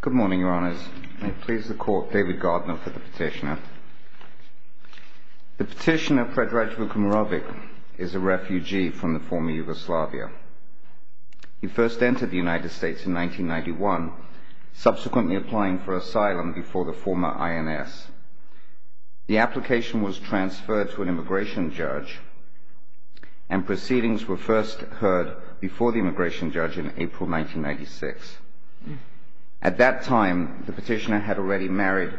Good morning, Your Honours. May it please the Court, David Gardner for the petitioner. The petitioner, Fredraj Vukmirovic, is a refugee from the former Yugoslavia. He first entered the United States in 1991, subsequently applying for asylum before the former INS. The application was transferred to an immigration judge, and proceedings were first heard before the immigration judge in 1996. At that time, the petitioner had already married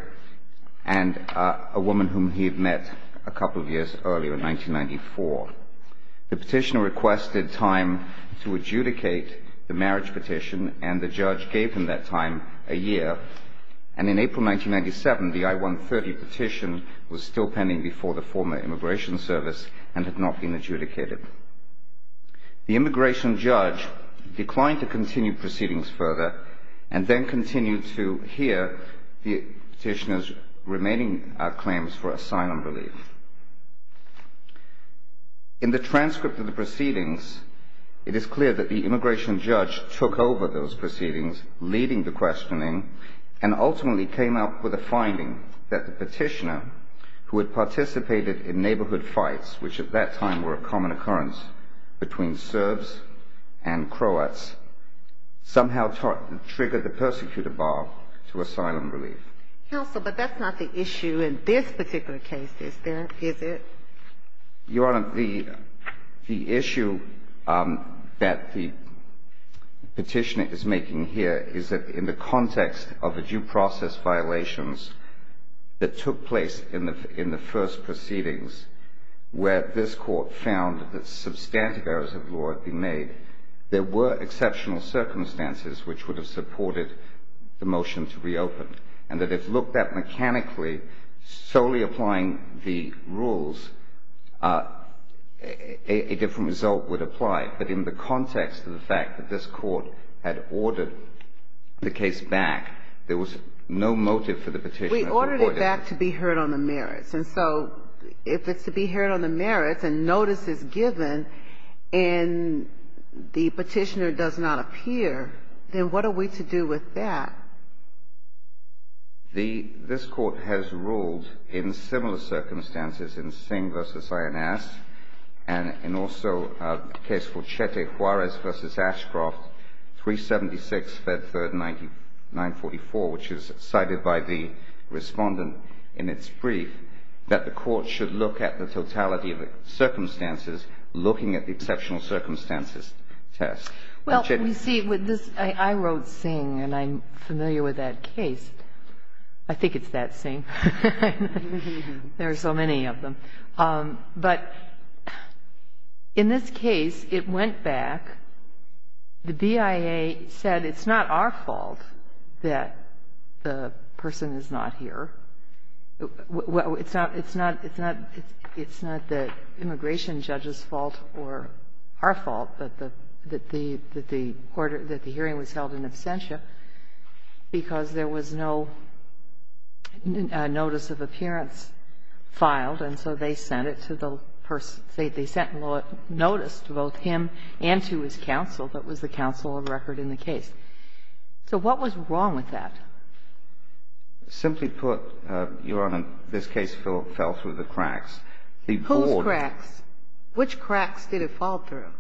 a woman whom he had met a couple of years earlier, in 1994. The petitioner requested time to adjudicate the marriage petition, and the judge gave him that time, a year. And in April 1997, the I-130 petition was still pending before the former Immigration Service, and had not been adjudicated. The immigration judge declined to continue proceedings further, and then continued to hear the petitioner's remaining claims for asylum relief. In the transcript of the proceedings, it is clear that the immigration judge took over those proceedings, leading the questioning, and ultimately came up with a finding that the petitioner, who had participated in neighbourhood fights, which at that time were a common occurrence between Serbs and Croats, somehow triggered the persecutor bar to asylum relief. Counsel, but that's not the issue in this particular case, is it? Your Honour, the issue that the petitioner is making here is that in the context of the first proceedings, where this Court found that substantive errors of law had been made, there were exceptional circumstances which would have supported the motion to reopen, and that if looked at mechanically, solely applying the rules, a different result would apply. But in the context of the fact that this Court had ordered the case back, there was no motive for the petitioner to avoid it. But the fact to be heard on the merits. And so, if it's to be heard on the merits, and notice is given, and the petitioner does not appear, then what are we to do with that? This Court has ruled in similar circumstances in Singh v. Ayanaz, and in also a case for Chete Juarez v. Ashcroft, 376, Fed 3rd, 944, which is cited by the Respondent. And it's briefed that the Court should look at the totality of the circumstances looking at the exceptional circumstances test. Well, you see, with this, I wrote Singh, and I'm familiar with that case. I think it's that Singh. There are so many of them. But in this case, it went back. The BIA said it's not our fault that the person is not here. It's not the immigration judge's fault or our fault that the hearing was held in absentia because there was no notice of appearance filed, and so they sent it to the person. They sent notice to both him and to his counsel that was the counsel of record in the case. So what was wrong with that? Simply put, Your Honor, this case fell through the cracks. Whose cracks? Which cracks did it fall through?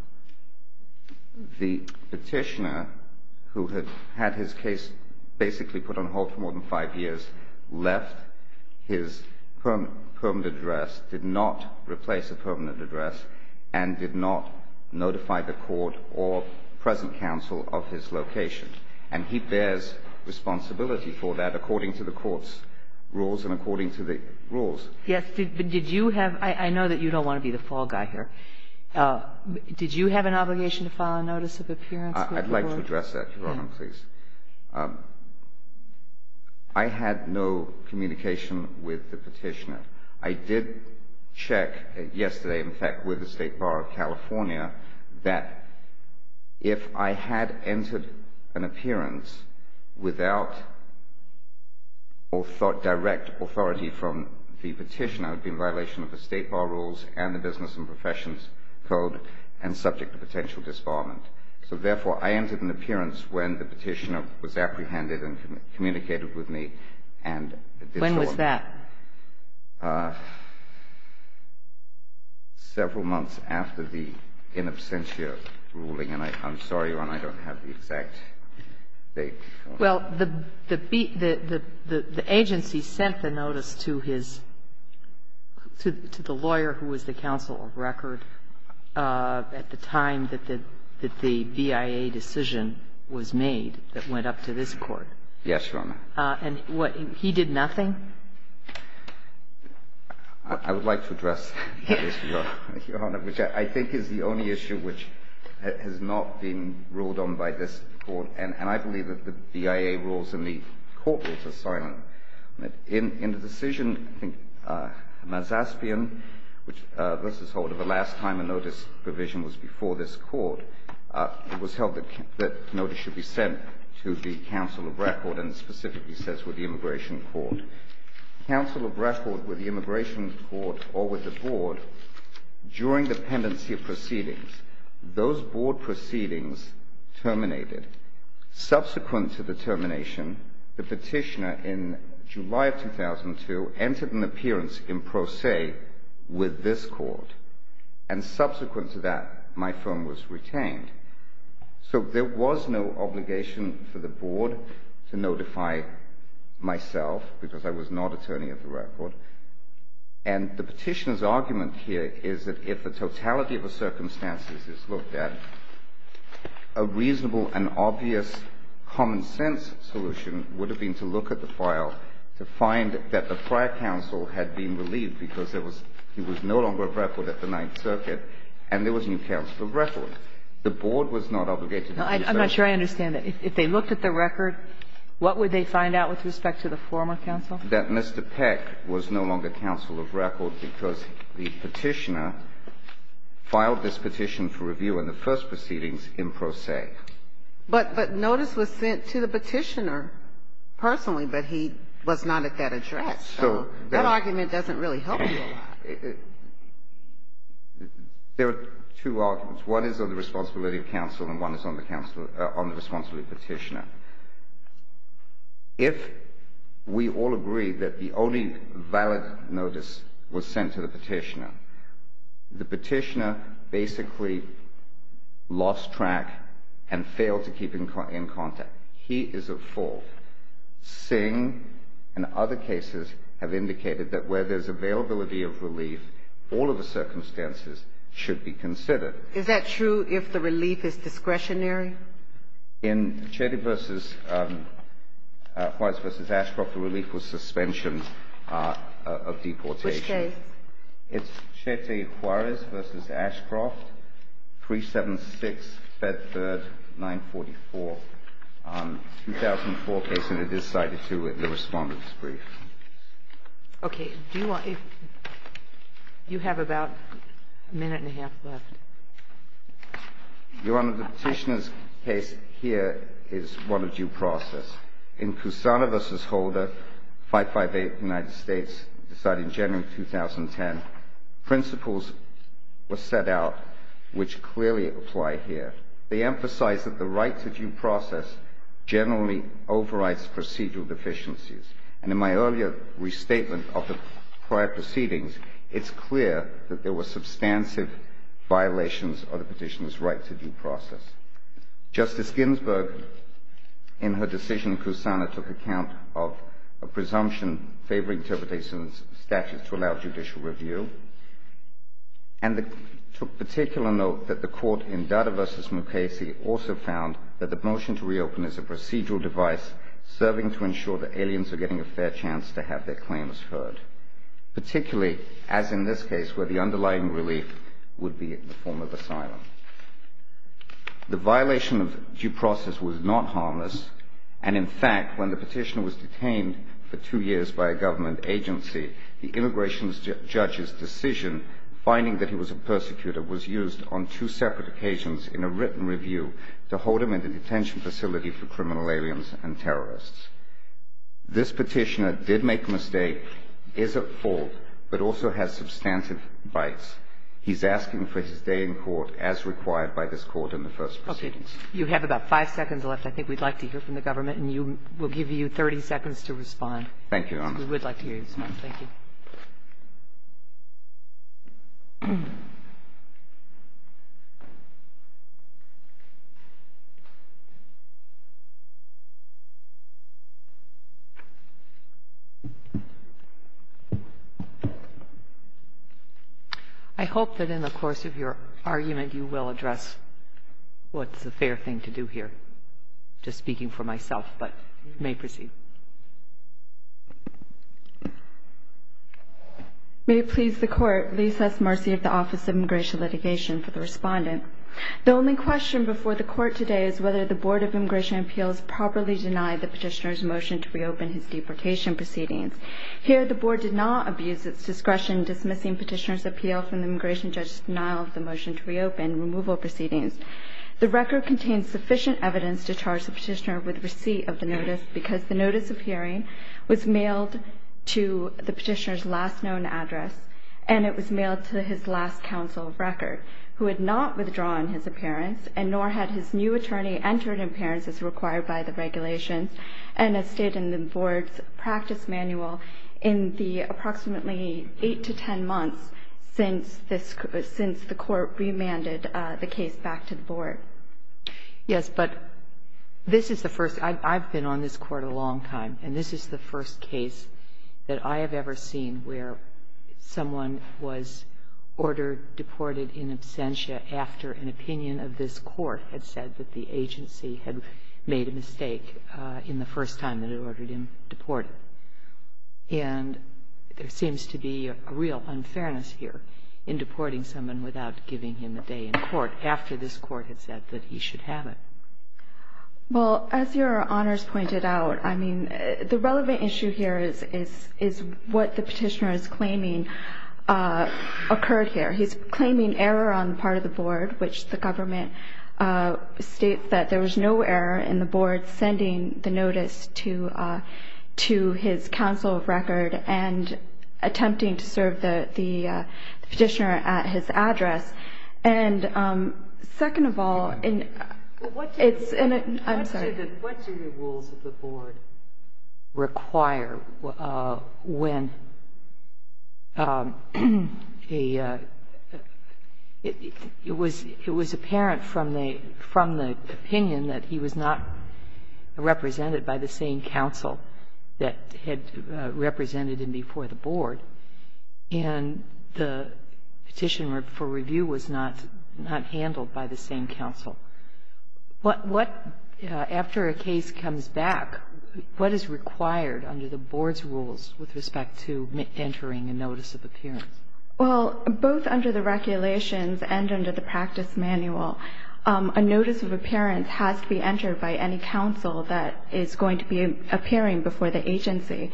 The petitioner, who had had his case basically put on hold for more than five years, left his permanent address, did not replace a permanent address, and did not notify the Court or the present counsel of his location. And he bears responsibility for that according to the Court's rules and according to the rules. Yes. But did you have — I know that you don't want to be the fall guy here. Did you have an obligation to file a notice of appearance with the Court? I'd like to address that, Your Honor, please. I had no communication with the petitioner. I did check yesterday, in fact, with the State Bar of California, that if I had entered an appearance without direct authority from the petitioner, it would be in violation of the State Bar rules and the Business and Professions Code and subject to potential disbarment. So, therefore, I entered an appearance when the petitioner was apprehended and communicated with me and — When was that? Several months after the in absentia ruling. And I'm sorry, Your Honor, I don't have the exact date. Well, the agency sent the notice to his — to the lawyer who was the counsel of record at the time that the BIA decision was made that went up to this Court. Yes, Your Honor. And he did nothing? I would like to address that issue, Your Honor, which I think is the only issue which has not been ruled on by this Court. And I believe that the BIA rules and the Court rules are silent. In the decision, I think, Mazaspian, which was the last time a notice provision was before this Court, it was held that notice should be sent to the counsel of record and specifically says with the Immigration Court. Counsel of record with the Immigration Court or with the Board, during the pendency of proceedings, those Board proceedings terminated. Subsequent to the termination, the petitioner in July of 2002 entered an appearance in pro se with this Court. And subsequent to that, my firm was retained. So there was no obligation for the Board to notify myself because I was not attorney of the record. And the petitioner's argument here is that if the totality of the circumstances is looked at, a reasonable and obvious common-sense solution would have been to look at the file to find that the prior counsel had been no longer of record at the Ninth Circuit and there was a new counsel of record. The Board was not obligated to do so. I'm not sure I understand it. If they looked at the record, what would they find out with respect to the former counsel? That Mr. Peck was no longer counsel of record because the petitioner filed this petition for review in the first proceedings in pro se. But notice was sent to the petitioner personally, but he was not at that address. So that argument doesn't really help you a lot. There are two arguments. One is on the responsibility of counsel and one is on the responsibility of the petitioner. If we all agree that the only valid notice was sent to the petitioner, the petitioner basically lost track and failed to keep in contact. He is at fault. Singh and other cases have indicated that where there's availability of relief, all of the circumstances should be considered. Is that true if the relief is discretionary? In Chetty v. Juarez v. Ashcroft, the relief was suspension of deportation. Which case? It's Chetty v. Juarez v. Ashcroft, 376, Fed Third, 944. A 2004 case, and it is cited, too, in the Respondent's Brief. Okay. Do you want to – do you have about a minute and a half left? Your Honor, the petitioner's case here is one of due process. In Cusana v. Holder, 558, United States, decided in January of 2010, principles were set out which clearly apply here. They emphasize that the right to due process generally overrides procedural deficiencies. And in my earlier restatement of the prior proceedings, it's clear that there were substantive violations of the petitioner's right to due process. Justice Ginsburg, in her decision in Cusana, took account of a presumption favoring interpretation of the statute to allow judicial review, and took particular note that the court in Dada v. Mukasey also found that the motion to reopen is a procedural device serving to ensure that aliens are getting a fair chance to have their claims heard, particularly, as in this case, where the underlying relief would be in the form of asylum. The violation of due process was not harmless, and in fact, when the petitioner was detained for two years by a government agency, the immigration judge's decision, finding that he was a persecutor, was used on two separate occasions in a written review to hold him in the detention facility for criminal aliens and terrorists. This petitioner did make a mistake, is at fault, but also has substantive bites. He's asking for his day in court as required by this Court in the first proceedings. Okay. You have about five seconds left. I think we'd like to hear from the government, and we'll give you 30 seconds to respond. Thank you, Your Honor. We would like to hear you respond. Thank you. I hope that in the course of your argument, you will address what's a fair thing to do here. I'm just speaking for myself, but you may proceed. May it please the Court. Lisa S. Marcy of the Office of Immigration Litigation for the respondent. The only question before the Court today is whether the Board of Immigration and Appeals properly denied the petitioner's motion to reopen his deportation proceedings. Here, the Board did not abuse its discretion dismissing petitioner's appeal from the immigration judge's denial of the motion to reopen removal proceedings. The record contains sufficient evidence to charge the petitioner with receipt of the notice because the notice of hearing was mailed to the petitioner's last known address, and it was mailed to his last counsel of record, who had not withdrawn his appearance, and nor had his new attorney entered appearance as required by the regulations, and has stayed in the Board's practice manual in the approximately 8 to 10 months since the Court remanded the case back to the Board. Yes, but this is the first – I've been on this Court a long time, and this is the first case that I have ever seen where someone was ordered deported in absentia after an opinion of this Court had said that the agency had made a mistake in the first time that it ordered him deported. And there seems to be a real unfairness here in deporting someone without giving him a day in court after this Court had said that he should have it. Well, as Your Honors pointed out, I mean, the relevant issue here is what the petitioner is claiming occurred here. He's claiming error on the part of the Board, which the government states that there was no error in the Board sending the notice to his counsel of record and attempting to serve the petitioner at his address. And second of all, it's in a – I'm sorry. What do the rules of the Board require when a – it was apparent from the opinion that he was not represented by the same counsel that had represented him before the Board. And the petition for review was not handled by the same counsel. What – after a case comes back, what is required under the Board's rules with respect to entering a notice of appearance? Well, both under the regulations and under the practice manual, a notice of appearance has to be entered by any counsel that is going to be appearing before the agency.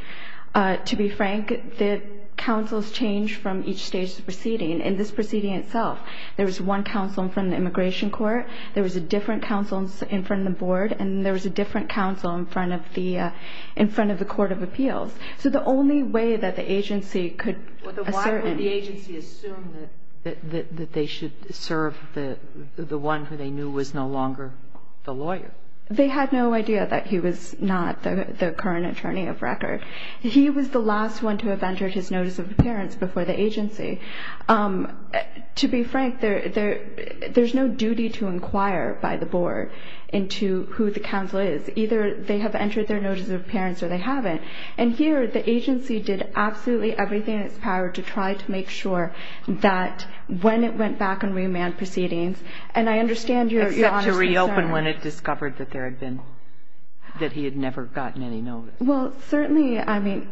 To be frank, the counsels change from each stage of the proceeding. In this proceeding itself, there was one counsel in front of the Immigration Court. There was a different counsel in front of the Board. And there was a different counsel in front of the – in front of the Court of Appeals. So the only way that the agency could assert in – But why would the agency assume that they should serve the one who they knew was no longer the lawyer? They had no idea that he was not the current attorney of record. He was the last one to have entered his notice of appearance before the agency. To be frank, there's no duty to inquire by the Board into who the counsel is. Either they have entered their notice of appearance or they haven't. And here, the agency did absolutely everything in its power to try to make sure that when it went back on remand proceedings, and I understand your honest concern. Except to reopen when it discovered that there had been – that he had never gotten any notice. Well, certainly, I mean,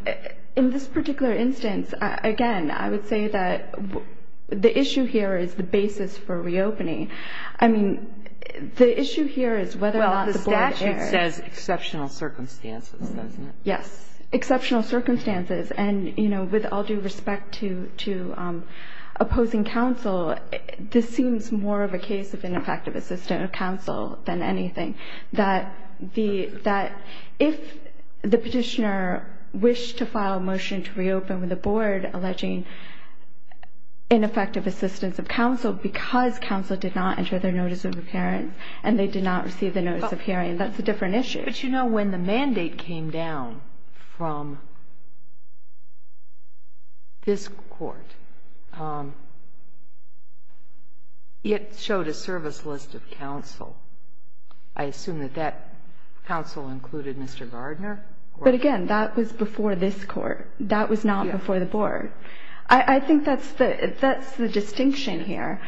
in this particular instance, again, I would say that the issue here is the basis for reopening. I mean, the issue here is whether or not the Board – Well, the statute says exceptional circumstances, doesn't it? Yes. Exceptional circumstances. And, you know, with all due respect to opposing counsel, this seems more of a case of ineffective assistance of counsel than anything, that the – that if the petitioner wished to file a motion to reopen with the Board alleging ineffective assistance of counsel because counsel did not enter their notice of appearance and they did not receive the notice of hearing, that's a different issue. But, you know, when the mandate came down from this Court, it showed a service list of counsel. I assume that that counsel included Mr. Gardner? But, again, that was before this Court. That was not before the Board. I think that's the distinction here.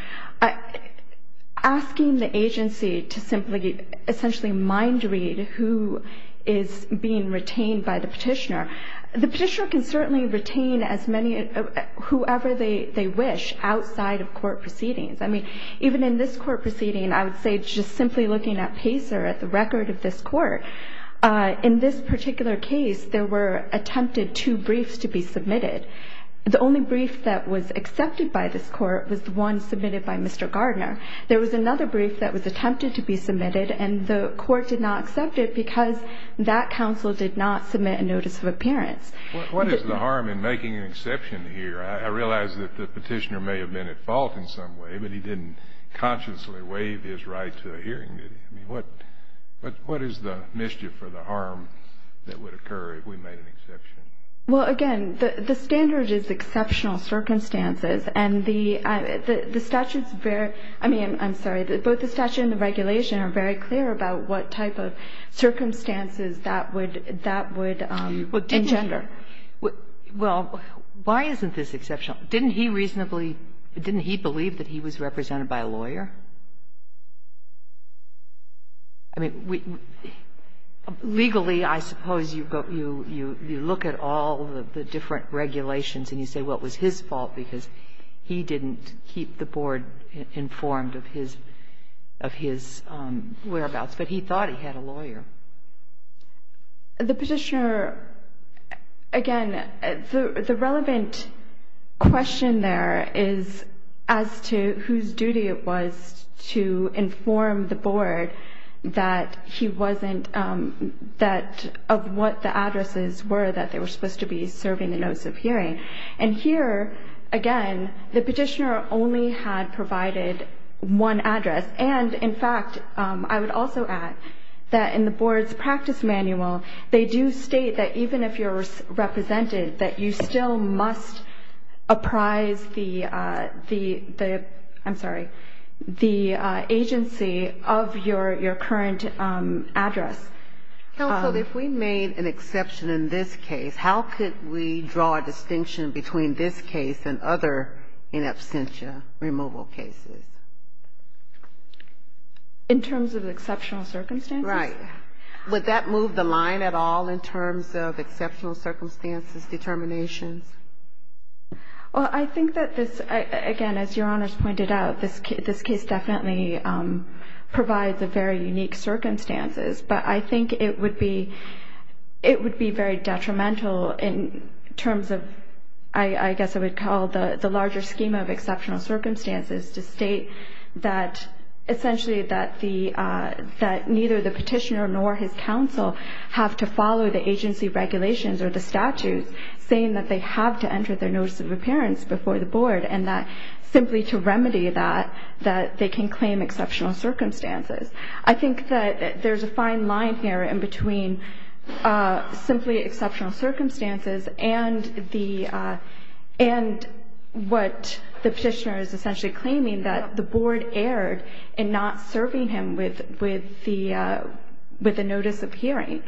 Asking the agency to simply essentially mind read who is being retained by the petitioner, the petitioner can certainly retain as many – whoever they wish outside of court proceedings. I mean, even in this court proceeding, I would say just simply looking at Pacer, at the record of this court, in this particular case, there were attempted two briefs to be submitted. The only brief that was accepted by this court was the one submitted by Mr. Gardner. There was another brief that was attempted to be submitted, and the court did not accept it because that counsel did not submit a notice of appearance. What is the harm in making an exception here? I realize that the petitioner may have been at fault in some way, but he didn't consciously waive his right to a hearing, did he? I mean, what is the mischief or the harm that would occur if we made an exception? Well, again, the standard is exceptional circumstances. And the statute's very – I mean, I'm sorry, both the statute and the regulation are very clear about what type of circumstances that would engender. Well, why isn't this exceptional? Didn't he reasonably – didn't he believe that he was represented by a lawyer? I mean, legally, I suppose you look at all of the different regulations and you say, well, it was his fault because he didn't keep the board informed of his whereabouts. But he thought he had a lawyer. The petitioner – again, the relevant question there is as to whose duty it was to inform the board that he wasn't – that of what the addresses were that they were supposed to be serving the notice of hearing. And here, again, the petitioner only had provided one address. And, in fact, I would also add that in the board's practice manual, they do state that even if you're represented, that you still must apprise the – I'm sorry – the agency of your current address. Counsel, if we made an exception in this case, how could we draw a distinction between this case and other in absentia removal cases? In terms of exceptional circumstances? Right. Would that move the line at all in terms of exceptional circumstances determinations? Well, I think that this – again, as Your Honors pointed out, this case definitely provides a very unique circumstances. But I think it would be very detrimental in terms of, I guess I would call, the larger scheme of exceptional circumstances to state that essentially that neither the petitioner nor his counsel have to follow the agency regulations or the statutes saying that they have to enter their notice of appearance before the board and that simply to remedy that, that they can claim exceptional circumstances. I think that there's a fine line here in between simply exceptional circumstances and the – and what the petitioner is essentially claiming, that the board erred in not serving him with the notice of hearing.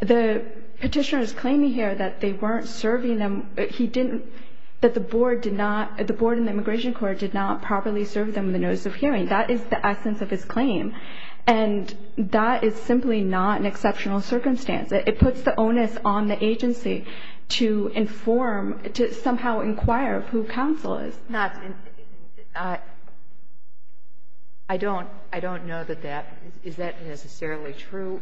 The petitioner is claiming here that they weren't serving him – he didn't – that the board did not – the board in the Immigration Court did not properly serve them the notice of hearing. That is the essence of his claim. And that is simply not an exceptional circumstance. It puts the onus on the agency to inform – to somehow inquire who counsel is. I don't know that that – is that necessarily true?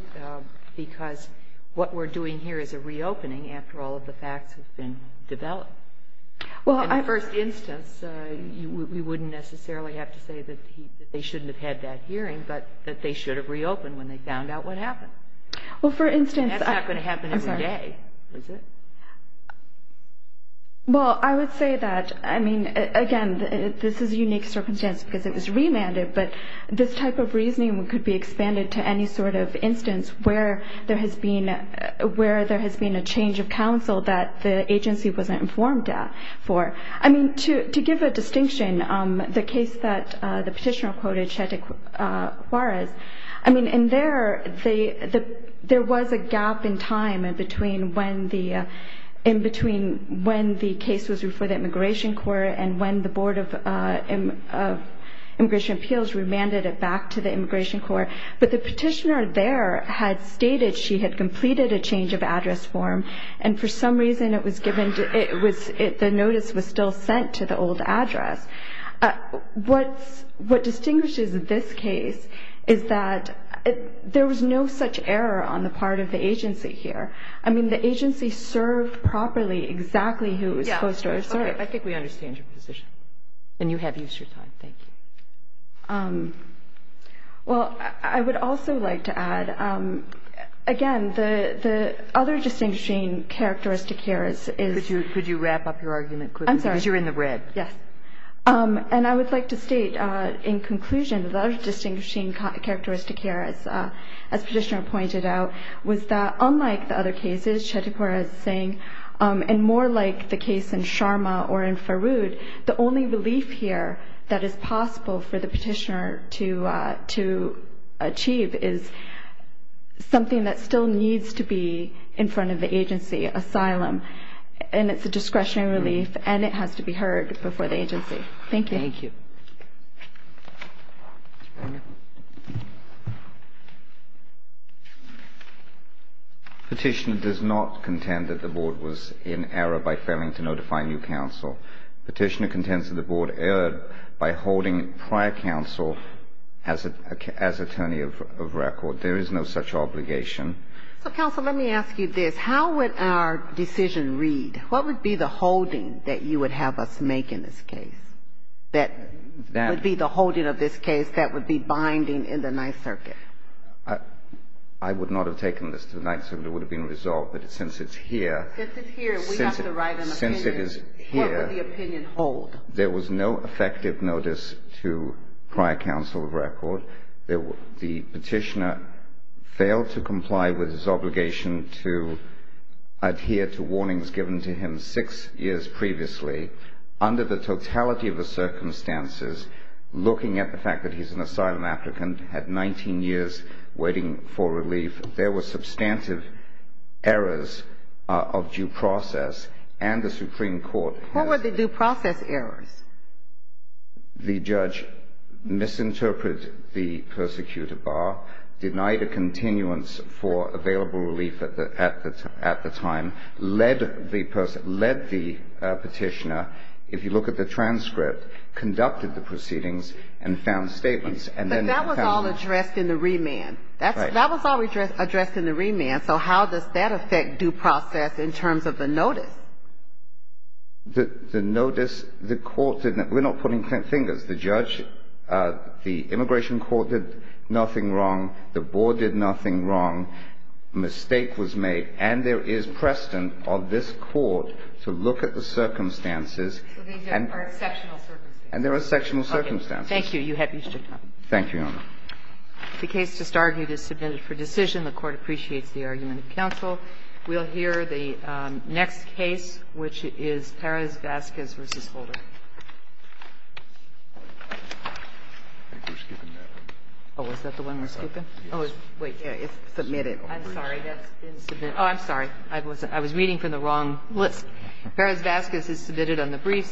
Because what we're doing here is a reopening after all of the facts have been developed. Well, I – In the first instance, we wouldn't necessarily have to say that he – that they shouldn't have had that hearing, but that they should have reopened when they found out what happened. Well, for instance – That's not going to happen every day, is it? Well, I would say that, I mean, again, this is a unique circumstance because it was remanded, but this type of reasoning could be expanded to any sort of instance where there has been a change of counsel that the agency wasn't informed for. I mean, to give a distinction, the case that the petitioner quoted Chete Juarez, I mean, in there, there was a gap in time in between when the case was referred to the Immigration Court and when the Board of Immigration Appeals remanded it back to the Immigration Court, but the petitioner there had stated she had completed a change of address form and for some reason it was given – the notice was still sent to the old address. What distinguishes this case is that there was no such error on the part of the agency here. I mean, the agency served properly exactly who it was supposed to serve. I think we understand your position, and you have used your time. Thank you. Well, I would also like to add, again, the other distinguishing characteristic here is – Could you wrap up your argument quickly? I'm sorry. Because you're in the red. Yes. And I would like to state, in conclusion, the other distinguishing characteristic here, as the petitioner pointed out, was that unlike the other cases Chete Juarez is saying, and more like the case in Sharma or in Farood, the only relief here that is possible for the petitioner to achieve is something that still needs to be in front of the agency, asylum. And it's a discretionary relief, and it has to be heard before the agency. Thank you. Thank you. Petitioner does not contend that the Board was in error by failing to notify new counsel. Petitioner contends that the Board erred by holding prior counsel as attorney of record. There is no such obligation. So, counsel, let me ask you this. How would our decision read? What would be the holding that you would have us make in this case, that would be the holding of this case that would be binding in the Ninth Circuit? I would not have taken this to the Ninth Circuit. It would have been resolved. But since it's here – Since it's here, we have to write an opinion. Since it is here – What would the opinion hold? There was no effective notice to prior counsel of record. The petitioner failed to comply with his obligation to adhere to warnings given to him six years previously. Under the totality of the circumstances, looking at the fact that he's an asylum applicant, had 19 years waiting for relief, there were substantive errors of due process. And the Supreme Court has – What were the due process errors? The judge misinterpreted the persecutor bar, denied a continuance for available relief at the time, led the petitioner, if you look at the transcript, conducted the proceedings and found statements. But that was all addressed in the remand. Right. That was all addressed in the remand. So how does that affect due process in terms of the notice? The notice, the court – we're not putting fingers. The judge, the immigration court did nothing wrong. The board did nothing wrong. A mistake was made. And there is precedent of this Court to look at the circumstances and – So these are exceptional circumstances. And there are exceptional circumstances. Okay. Thank you. You have your time. Thank you, Your Honor. The case just argued is submitted for decision. The Court appreciates the argument of counsel. We'll hear the next case, which is Perez-Vasquez v. Holder. I think we're skipping that one. Oh, is that the one we're skipping? Oh, wait. Yeah, it's submitted already. I'm sorry. That's been submitted. Oh, I'm sorry. I was reading from the wrong list. Perez-Vasquez is submitted on the briefs.